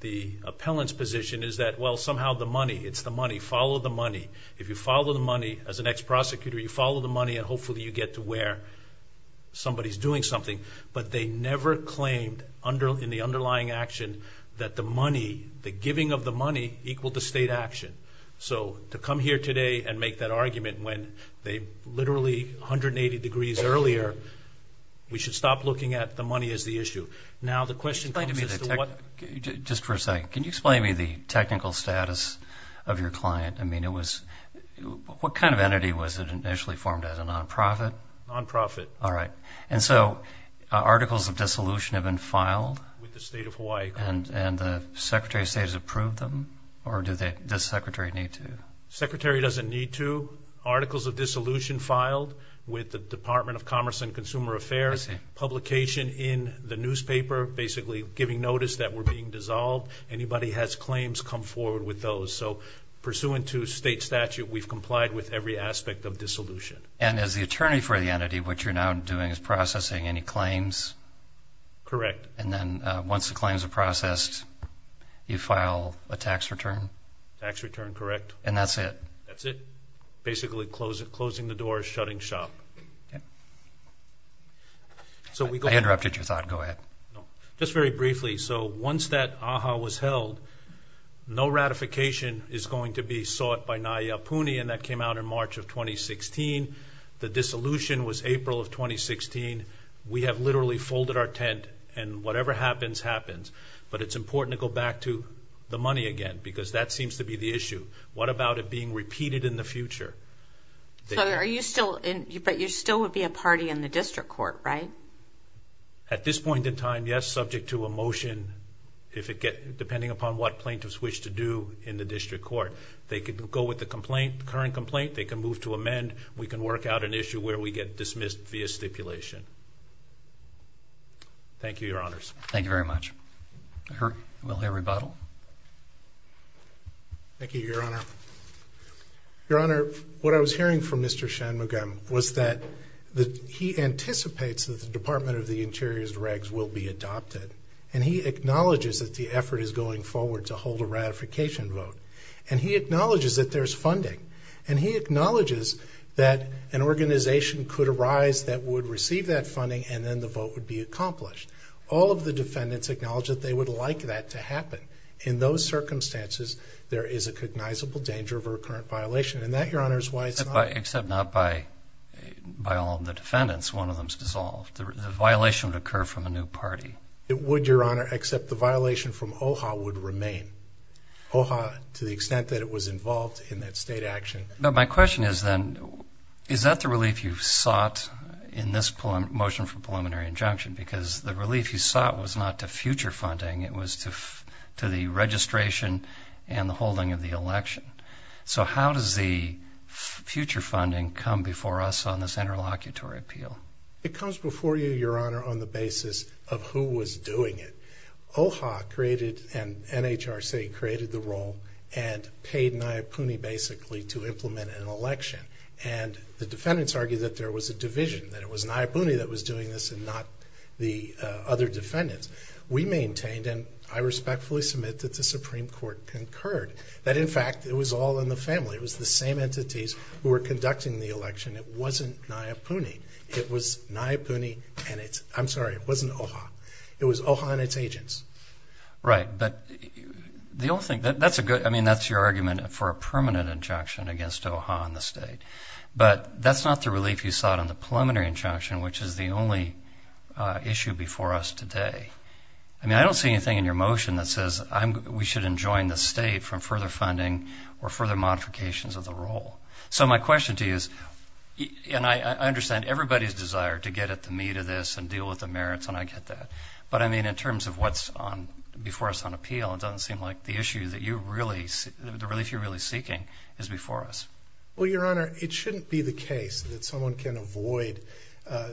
the appellant's position, is that, well, somehow, the money, it's the money. Follow the money. If you follow the money, as an ex-prosecutor, you follow the money, and hopefully you get to where somebody's doing something, but they never claimed in the underlying action that the money, the giving of the money, equaled the state action, so to come here today and make that argument when they literally 180 degrees earlier, we should stop looking at the money as the issue. Now, the question... Just for a second, can you explain to me the technical status of your client? I mean, it was, what kind of entity was it initially formed as, a non-profit? Non-profit. All right, and so, articles of dissolution have been filed... With the State of Hawaii. And the Secretary of State has approved them, or does the Secretary need to? Secretary doesn't need to. Articles of dissolution filed with the Department of Commerce and Consumer Affairs. Publication in the newspaper, basically giving notice that we're being dissolved. Anybody has claims, come forward with those. So, pursuant to state statute, we've complied with every aspect of dissolution. And as the attorney for the entity, what you're now doing is processing any claims? Correct. And then, once the claims are processed, you file a tax return? Tax return, correct. And that's it? That's it. Basically, closing the door, shutting shop. I interrupted your thought, go ahead. No, just very briefly. So, once that AHA was held, no ratification is going to be sought by NAIA Puni, and that came out in March of 2016. The dissolution was April of 2016. We have literally folded our tent, and whatever happens, happens. But it's important to go back to the money again, because that seems to be the issue. What about it being repeated in the future? But you still would be a party in the district court, right? At this point in time, yes, subject to a motion, depending upon what plaintiffs wish to do in the district court. They could go with the current complaint. They can move to amend. We can work out an issue where we get dismissed via stipulation. Thank you, your honors. Thank you very much. We'll hear rebuttal. Thank you, your honor. Your honor, what I was hearing from Mr. Shanmugam was that he anticipates that the Department of the Interior's regs will be adopted. And he acknowledges that the effort is going forward to hold a ratification vote. And he acknowledges that there's funding. And he acknowledges that an organization could arise that would receive that funding, and then the vote would be accomplished. All of the defendants acknowledge that they would like that to happen. In those circumstances, there is a recognizable danger of a recurrent violation. And that, your honor, is why it's not... Except not by all of the defendants. One of them's dissolved. The violation would occur from a new party. It would, your honor, except the violation from OHA would remain. OHA, to the extent that it was involved in that state action... But my question is then, is that the relief you sought in this motion for preliminary injunction? Because the relief you sought was not to future funding. It was to the registration and the holding of the election. So how does the future funding come before us on this interlocutory appeal? It comes before you, your honor, on the basis of who was doing it. OHA created, and NHRC created the role, and paid Nayapuni, basically, to implement an election. And the defendants argue that there was a division, that it was Nayapuni that was doing this and not the other defendants. We maintained, and I respectfully submit that the Supreme Court concurred, that in fact, it was all in the family. It was the same entities who were conducting the election. It wasn't Nayapuni. It was Nayapuni and it's... I'm sorry, it wasn't OHA. It was OHA and its agents. Right. But the only thing... That's a good... I mean, that's your argument for a permanent injunction against OHA and the state. But that's not the relief you sought on the preliminary injunction, which is the only issue before us today. I mean, I don't see anything in your motion that says we should enjoin the state from further funding or further modifications of the role. So my question to you is, and I understand everybody's desire to get at the meat of this and deal with the merits, and I get that. But I mean, in terms of what's before us on appeal, it doesn't seem like the issue that you really... The relief you're really seeking is before us. Well, Your Honor, it shouldn't be the case that someone can avoid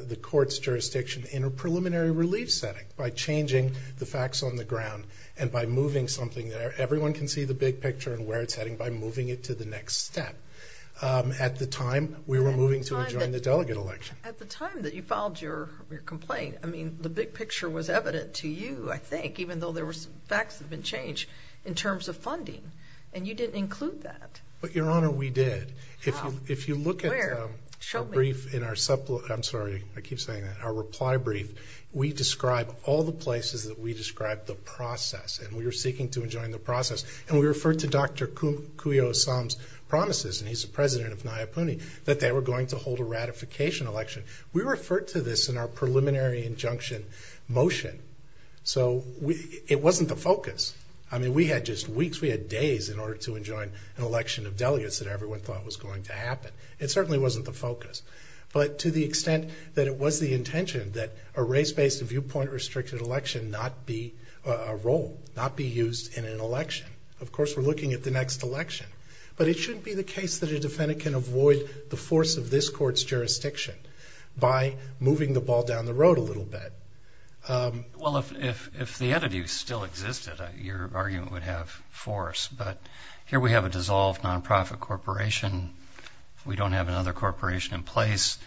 the court's jurisdiction in a preliminary relief setting by changing the facts on the ground and by moving something there. Everyone can see the big picture and where it's heading by moving it to the next step. At the time, we were moving to enjoin the delegate election. At the time that you filed your complaint, I mean, the big picture was evident to you, I think, even though there were some facts that had been changed in terms of funding. And you didn't include that. But Your Honor, we did. If you look at our reply brief, we describe all the places that we described the process, and we were seeking to enjoin the process. And we referred to Dr. Kuyo Osam's promises, and he's the president of Nayapuni, that they were going to hold a ratification election. We referred to this in our preliminary injunction motion. So it wasn't the focus. I mean, we had just weeks, we had days in order to enjoin an election of delegates that everyone thought was going to happen. It certainly wasn't the focus. But to the extent that it was the intention that a race-based viewpoint-restricted election not be a role, not be used in an election. Of course, we're looking at the next election. But it shouldn't be the case that a defendant can avoid the force of this court's jurisdiction by moving the ball down the road a little bit. Well, if the attitude still existed, your argument would have force. But here we have a dissolved nonprofit corporation. We don't have another corporation in place.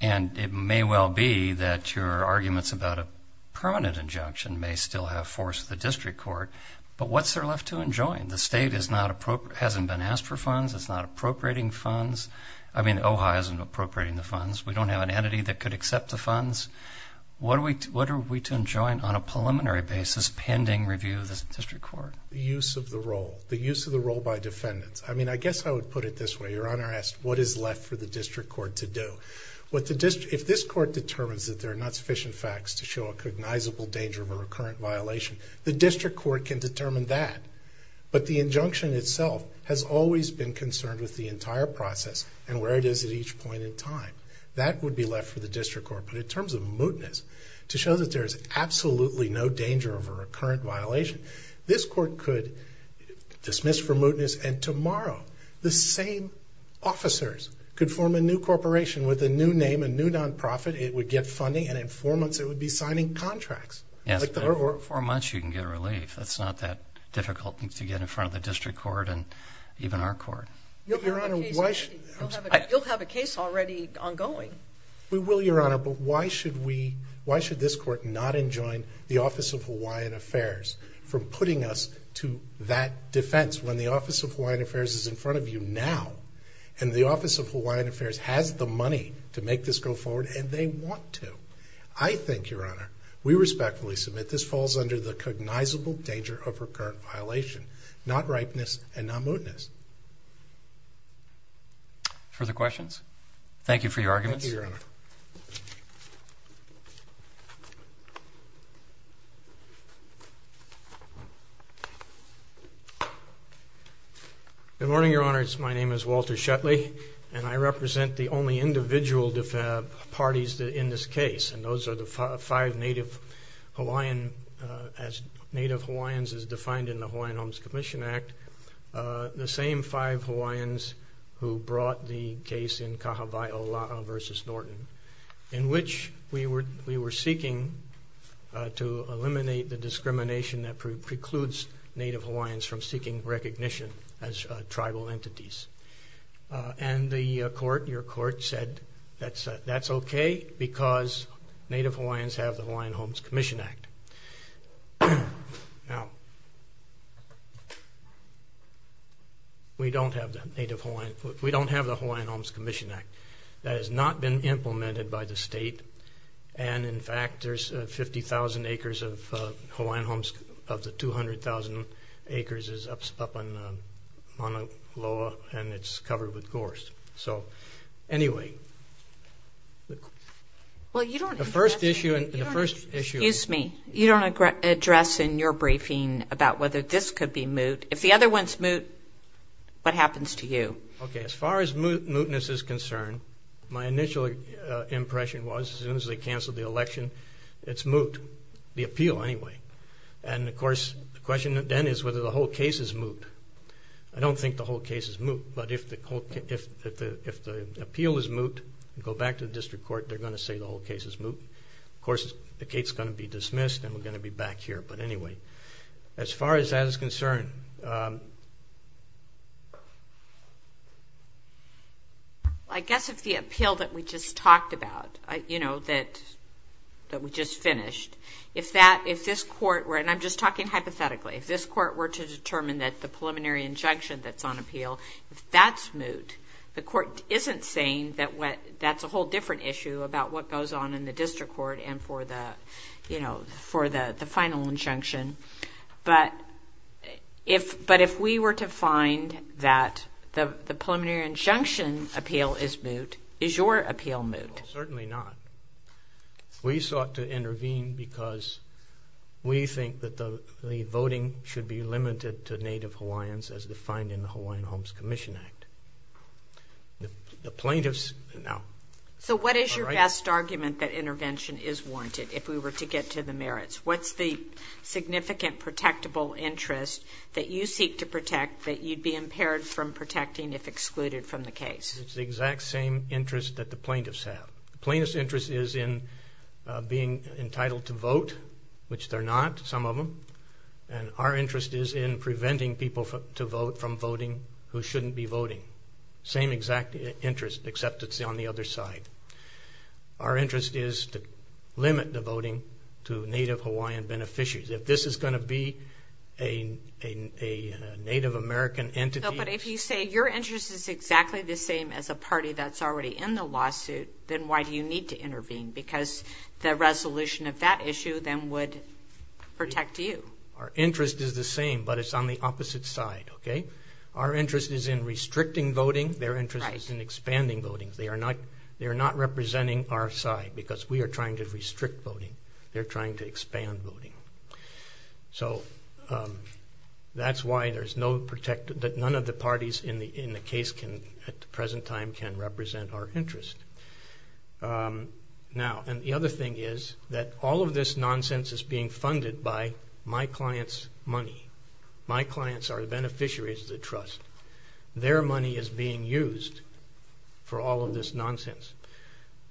And it may well be that your arguments about a permanent injunction may still have force with the district court. But what's there left to enjoin? The state hasn't been asked for funds. It's not appropriating funds. I mean, we don't have an entity that could accept the funds. What are we to enjoin on a preliminary basis pending review of the district court? The use of the role, the use of the role by defendants. I mean, I guess I would put it this way. Your Honor asked what is left for the district court to do. If this court determines that there are not sufficient facts to show a cognizable danger of a recurrent violation, the district court can determine that. But the injunction itself has always been concerned with the entire process and where it is at each point in time. That would be left for the district court. But in terms of mootness, to show that there's absolutely no danger of a recurrent violation, this court could dismiss for mootness. And tomorrow, the same officers could form a new corporation with a new name, a new nonprofit. It would get funding. And in four months, it would be signing contracts. For four months, you can get relief. It's not that difficult to get in front of the district court and even our court. You'll have a case already ongoing. We will, Your Honor. But why should we, why should this court not enjoin the Office of Hawaiian Affairs from putting us to that defense when the Office of Hawaiian Affairs is in front of you now? And the Office of Hawaiian Affairs has the money to make this go forward, and they want to. I think, Your Honor, we respectfully submit this falls under the cognizable danger of recurrent violation, not ripeness and not mootness. Further questions? Thank you for your arguments. Good morning, Your Honors. My name is Walter Shetley, and I represent the only individual parties in this case. And those are the five Native Hawaiians, as Native Hawaiians is defined in the Hawaiian Homes Commission Act, the same five Hawaiians who brought the case in Kahawai Ola'a versus Norton, in which we were seeking to eliminate the discrimination that precludes Native Hawaiians from seeking recognition as tribal entities. And the court, your court, said that's okay because Native Hawaiians have the Hawaiian Homes Commission Act. Now, we don't have the Native Hawaiian, we don't have the Hawaiian Homes Commission Act. That has not been implemented by the state. And in fact, there's 50,000 acres of Hawaiian homes, of the 200,000 acres is up on Ola'a, and it's covered with gorse. So, anyway... Well, you don't... The first issue... Excuse me, you don't address in your briefing about whether this could be moot. If the other one's moot, what happens to you? Okay, as far as mootness is concerned, my initial impression was, as soon as they canceled the election, it's moot, the appeal anyway. And of course, the question then is whether the whole case is moot. I don't think the whole case is moot, but if the appeal is moot, go back to the district court, they're going to say the whole case is moot. Of course, the case is going to be dismissed and we're going to be back here. But anyway, as far as that is concerned... I guess if the appeal that we just finished, if this court were... And I'm just talking hypothetically. If this court were to determine that the preliminary injunction that's on appeal, if that's moot, the court isn't saying that's a whole different issue about what goes on in the district court and for the final injunction. But if we were to find that the preliminary injunction appeal is moot, is your appeal moot? Certainly not. We sought to intervene because we think that the voting should be limited to Native Hawaiians as defined in the Hawaiian Homes Commission Act. The plaintiffs... So what is your best argument that intervention is warranted, if we were to get to the merits? What's the significant protectable interest that you seek to protect that you'd be impaired from The plaintiff's interest is in being entitled to vote, which they're not, some of them. And our interest is in preventing people to vote from voting who shouldn't be voting. Same exact interest, except it's on the other side. Our interest is to limit the voting to Native Hawaiian beneficiaries. If this is going to be a Native American entity... No, but if you say your interest is exactly the same as a party that's already in the lawsuit, then why do you need to intervene? Because the resolution of that issue then would protect you. Our interest is the same, but it's on the opposite side, okay? Our interest is in restricting voting. Their interest is in expanding voting. They are not representing our side because we are trying to restrict voting. They're trying to expand voting. So that's why there's no protective... time can represent our interest. Now, and the other thing is that all of this nonsense is being funded by my client's money. My clients are the beneficiaries of the trust. Their money is being used for all of this nonsense.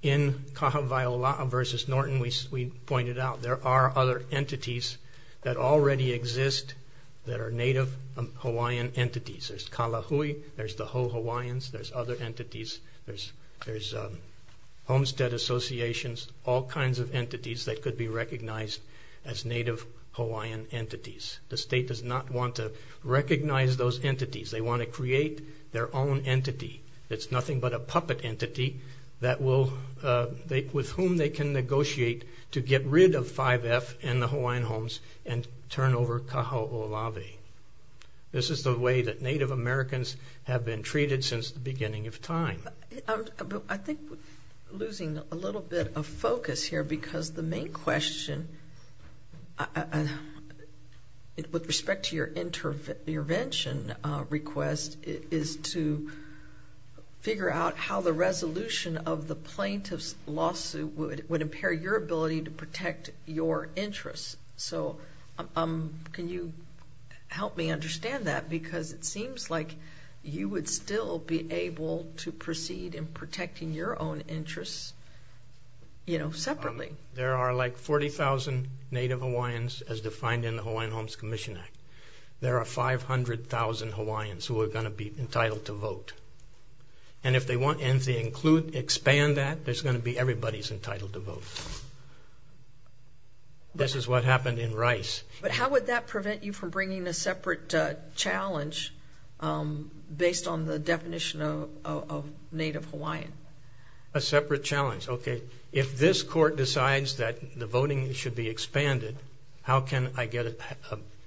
In Kahawaiola'a versus Norton, we pointed out there are other entities that already exist that are Native Hawaiian entities. There's Kalahui, there's the Hawaiian entities, there's homestead associations, all kinds of entities that could be recognized as Native Hawaiian entities. The state does not want to recognize those entities. They want to create their own entity that's nothing but a puppet entity that will... with whom they can negotiate to get rid of 5F and the Hawaiian homes and turn over Kahawaiola'a. This is the way that I think we're losing a little bit of focus here because the main question with respect to your intervention request is to figure out how the resolution of the plaintiff's lawsuit would impair your ability to protect your interests. So can you help me understand that? Because it seems like you would still be able to proceed in protecting your own interests, you know, separately. There are like 40,000 Native Hawaiians as defined in the Hawaiian Homes Commission Act. There are 500,000 Hawaiians who are going to be entitled to vote. And if they want to include, expand that, there's going to be everybody's entitled to vote. This is what happened in Rice. But how would that prevent you from bringing a separate challenge based on the definition of Native Hawaiian? A separate challenge, okay. If this court decides that the voting should be expanded, how can I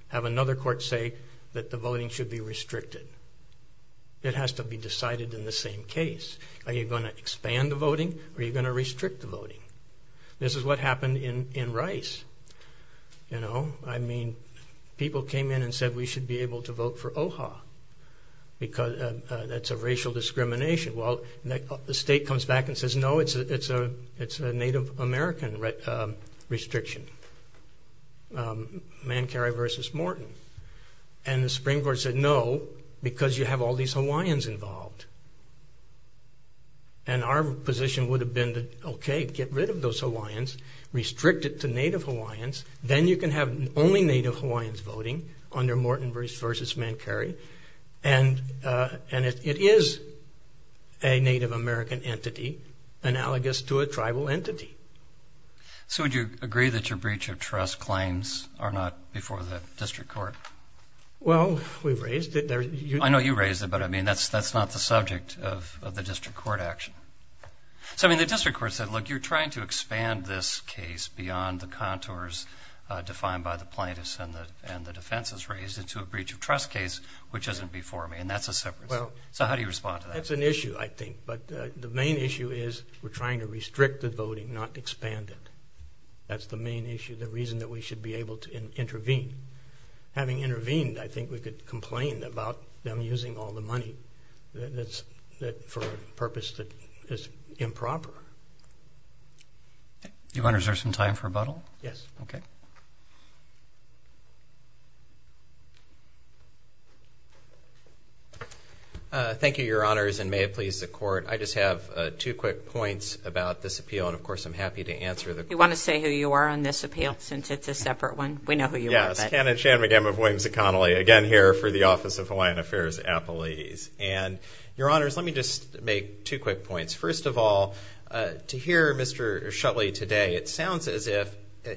have another court say that the voting should be restricted? It has to be decided in the same case. Are you going to expand the voting or are you going to restrict the voting? This is what happened in Rice, you know. I mean, people came in and said we should be able to vote for OHA because that's a racial discrimination. Well, the state comes back and says no, it's a Native American restriction, Mancari versus Morton. And the Supreme Court said no because you have all these Hawaiians involved. And our position would have been, okay, get rid of those Hawaiians, restrict it to Native Hawaiians, then you can have only Native Hawaiians voting under Morton versus Mancari. And it is a Native American entity analogous to a tribal entity. So would you agree that your breach of trust claims are not before the district court? Well, we've raised it. I know you raised it, but I mean that's not the subject of the district action. So I mean the district court said, look, you're trying to expand this case beyond the contours defined by the plaintiffs and the defenses raised into a breach of trust case, which isn't before me. And that's a separate issue. So how do you respond to that? Well, that's an issue, I think. But the main issue is we're trying to restrict the voting, not expand it. That's the main issue, the reason that we should be able to intervene. Having intervened, I think we could complain about them using all the money that's for a purpose that is improper. Do you want to reserve some time for rebuttal? Yes. Okay. Thank you, your honors, and may it please the court. I just have two quick points about this appeal. And of course, I'm happy to answer the- You want to say who you are on this appeal, since it's a separate one? We know who you are. Yes, Ken and Shan McGammon of Williams and Connolly, again here for the Office of Hawaiian Affairs Appellees. And your honors, let me just make two quick points. First of all, to hear Mr. Shutley today, it sounds as if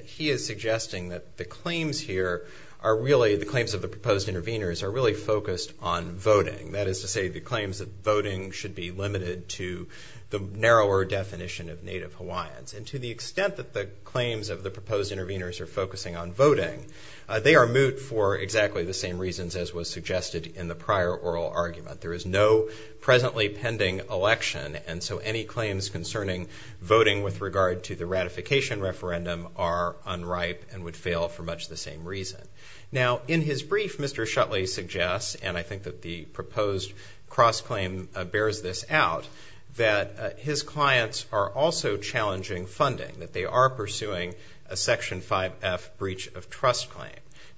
he is suggesting that the claims here are really, the claims of the proposed interveners are really focused on voting. That is to say, the claims of voting should be limited to the narrower definition of Native Hawaiians. And to the extent that the claims of the proposed interveners are focusing on voting, they are moot for exactly the same reasons as was suggested in the prior oral argument. There is no presently pending election, and so any claims concerning voting with regard to the ratification referendum are unripe and would fail for much the same reason. Now, in his brief, Mr. Shutley suggests, and I think that the proposed cross-claim bears this out, that his clients are also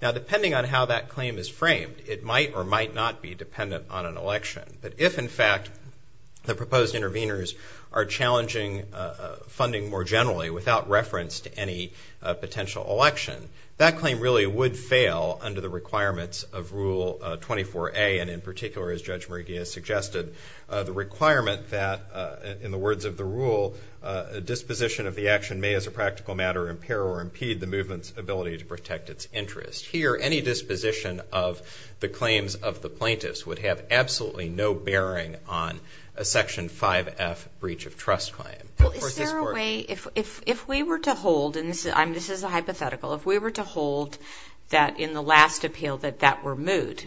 Now, depending on how that claim is framed, it might or might not be dependent on an election. But if, in fact, the proposed interveners are challenging funding more generally without reference to any potential election, that claim really would fail under the requirements of Rule 24A, and in particular, as Judge Murigia suggested, the requirement that, in the words of the rule, a disposition of the action may, as a practical matter, impair or impede the movement's ability to protect its interest. Here, any disposition of the claims of the plaintiffs would have absolutely no bearing on a Section 5F breach of trust claim. Is there a way, if we were to hold, and this is a hypothetical, if we were to hold that in the last appeal that that were moot,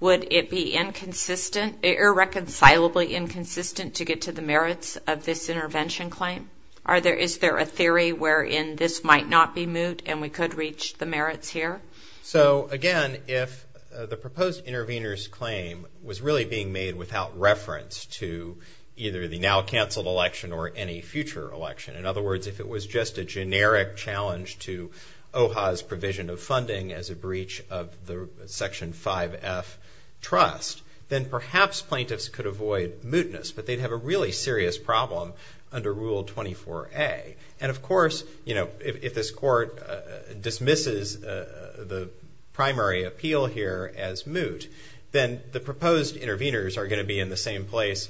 would it be inconsistent, irreconcilably inconsistent to get to the merits of this intervention claim? Is there a theory wherein this might not be moot and we could reach the merits here? So, again, if the proposed intervener's claim was really being made without reference to either the now-canceled election or any future election, in other words, if it was just a generic challenge to OHA's provision of funding as a breach of the Section 5F trust, then perhaps plaintiffs could avoid mootness, but they'd have a really serious problem under Rule 24A. And, of course, if this Court dismisses the primary appeal here as moot, then the proposed interveners are going to be in the same place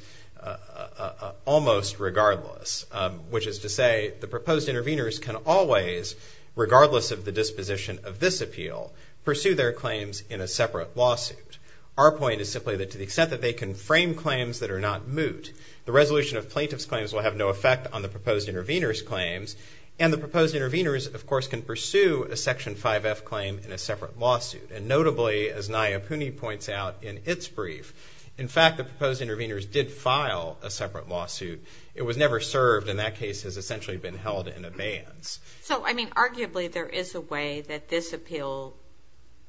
almost regardless, which is to say the proposed interveners can always, regardless of the disposition of this appeal, pursue their claims in a separate lawsuit. Our point is simply that to the extent that they can frame claims that have no effect on the proposed intervener's claims, and the proposed interveners, of course, can pursue a Section 5F claim in a separate lawsuit. And notably, as Nayah Pooney points out in its brief, in fact, the proposed interveners did file a separate lawsuit. It was never served. In that case, it has essentially been held in abeyance. So, I mean, arguably, there is a way that this appeal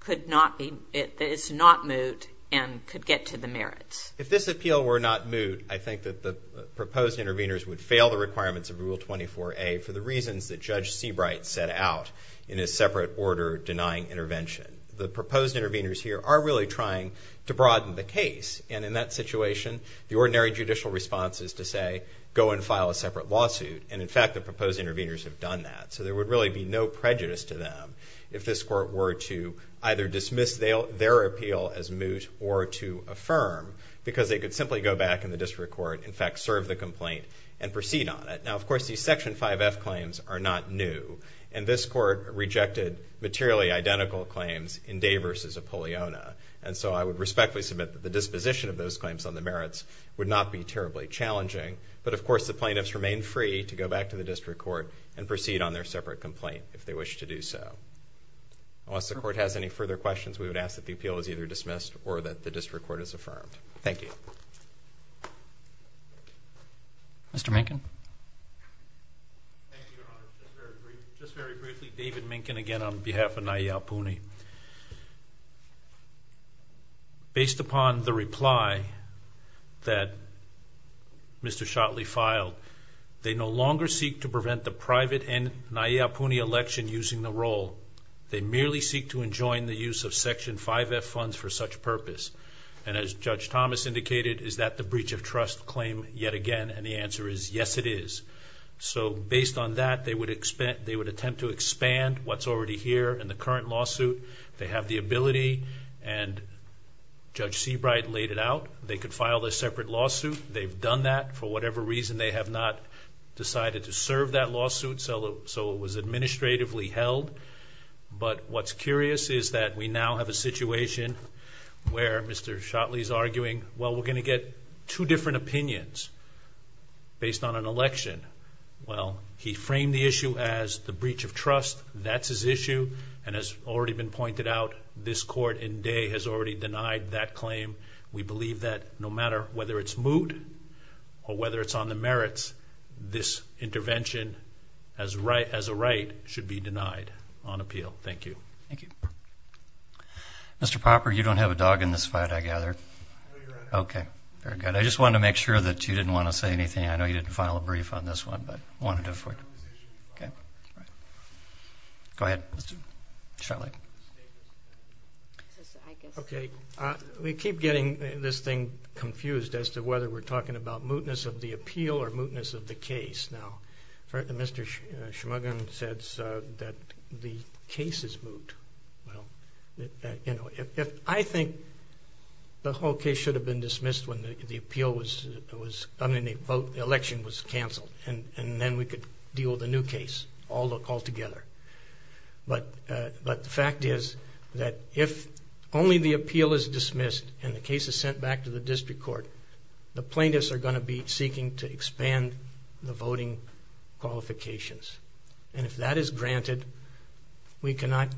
could not be, is not moot and could get to the merits. If this appeal were not moot, I think that proposed interveners would fail the requirements of Rule 24A for the reasons that Judge Seabright set out in his separate order denying intervention. The proposed interveners here are really trying to broaden the case. And in that situation, the ordinary judicial response is to say, go and file a separate lawsuit. And, in fact, the proposed interveners have done that. So there would really be no prejudice to them if this Court were to either dismiss their appeal as moot or to serve the complaint and proceed on it. Now, of course, these Section 5F claims are not new. And this Court rejected materially identical claims in Day v. Apolliona. And so I would respectfully submit that the disposition of those claims on the merits would not be terribly challenging. But, of course, the plaintiffs remain free to go back to the District Court and proceed on their separate complaint if they wish to do so. Unless the Court has any further questions, we would ask that the appeal is either dismissed or that the District Court is affirmed. Thank you. Mr. Minkin? Thank you, Your Honor. Just very briefly, David Minkin again on behalf of Nye Iyapuni. Based upon the reply that Mr. Shotley filed, they no longer seek to prevent the private Nye Iyapuni election using the roll. They merely seek to enjoin the use of Section 5F funds for such purpose. And as Judge Thomas indicated, is that the breach of trust claim yet again? And the answer is, yes, it is. So based on that, they would attempt to expand what's already here in the current lawsuit. They have the ability, and Judge Seabright laid it out. They could file their separate lawsuit. They've done that. For whatever reason, they have not decided to serve that lawsuit. So it was administratively held. But what's curious is that we now have a situation where Mr. Shotley is arguing, well, we're going to get two different opinions based on an election. Well, he framed the issue as the breach of trust. That's his issue and has already been pointed out. This court in Dey has already denied that claim. We believe that no matter whether it's moot or whether it's on the merits, this intervention as a right should be denied on appeal. Thank you. Thank you. Mr. Popper, you don't have a dog in this fight, I gather. Okay, very good. I just wanted to make sure that you didn't want to say anything. I know you didn't file a brief on this one, but I wanted to... Go ahead, Mr. Shotley. Okay, we keep getting this thing confused as to whether we're talking about mootness of the Well, you know, I think the whole case should have been dismissed when the appeal was done and the election was canceled. And then we could deal with a new case altogether. But the fact is that if only the appeal is dismissed and the case is sent back to the district court, the plaintiffs are going to be seeking to expand the voting qualifications. And if that is granted, we cannot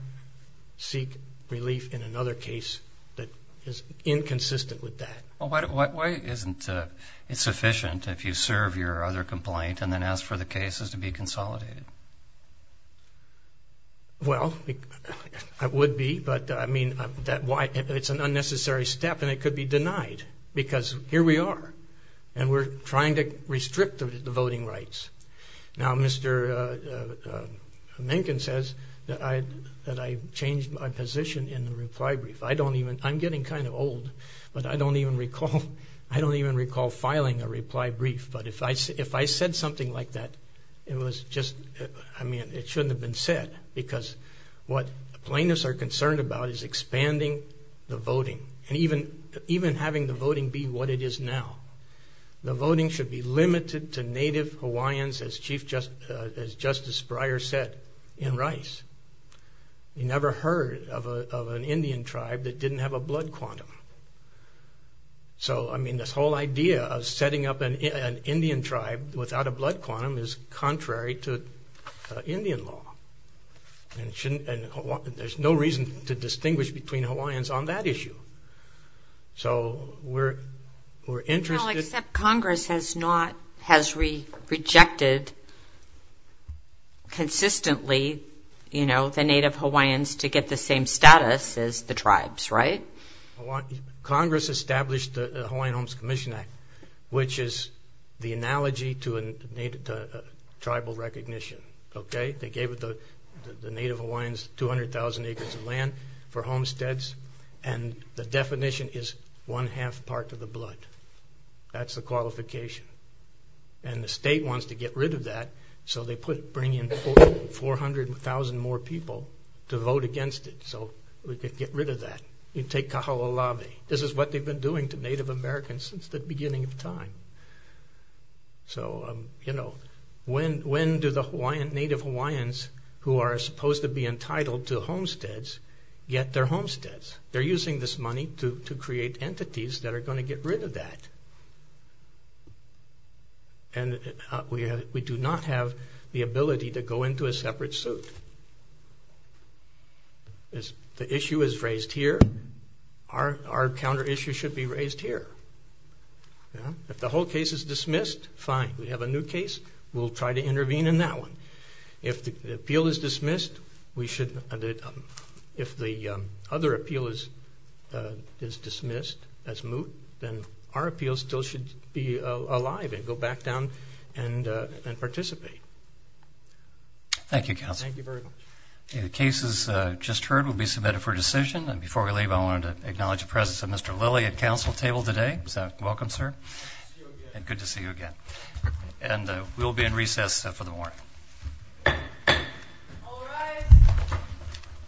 seek relief in another case that is inconsistent with that. Well, why isn't it sufficient if you serve your other complaint and then ask for the cases to be consolidated? Well, it would be, but I mean, it's an unnecessary step and it could be denied because here we are and we're trying to restrict the voting rights. Now, Mr. Mencken says that I changed my position in the reply brief. I'm getting kind of old, but I don't even recall filing a reply brief. But if I said something like that, it shouldn't have been said because what plaintiffs are concerned about is expanding the voting and even having the voting be what it is now. The voting should be limited to native Hawaiians, as Justice Breyer said in Rice. You never heard of an Indian tribe that didn't have a blood quantum. So, I mean, this whole idea of setting up an Indian tribe without a blood quantum is contrary to Indian law. And there's no reason to distinguish between Hawaiians on that issue. Now, except Congress has rejected consistently the native Hawaiians to get the same status as the tribes, right? Congress established the Hawaiian Homes Commission Act, which is the analogy to tribal recognition, okay? They gave the native Hawaiians 200,000 acres of land for the definition is one-half part of the blood. That's the qualification. And the state wants to get rid of that, so they bring in 400,000 more people to vote against it so we could get rid of that. You take Kahoolawe. This is what they've been doing to Native Americans since the beginning of time. So, you know, when do the native Hawaiians who are supposed to be entitled to homesteads get their homesteads? They're using this money to create entities that are going to get rid of that. And we do not have the ability to go into a separate suit. As the issue is raised here, our counter issue should be raised here. If the whole case is dismissed, fine. We have a new case, we'll try to intervene in that one. If the appeal is dismissed, we should, if the other appeal is dismissed as moot, then our appeal still should be alive and go back down and participate. Thank you, counsel. Thank you very much. The cases just heard will be submitted for decision, and before we leave, I wanted to acknowledge the presence of Mr. Lilly at council table today. So, welcome, sir, and good to see you again. And we'll be in recess for the morning. All rise.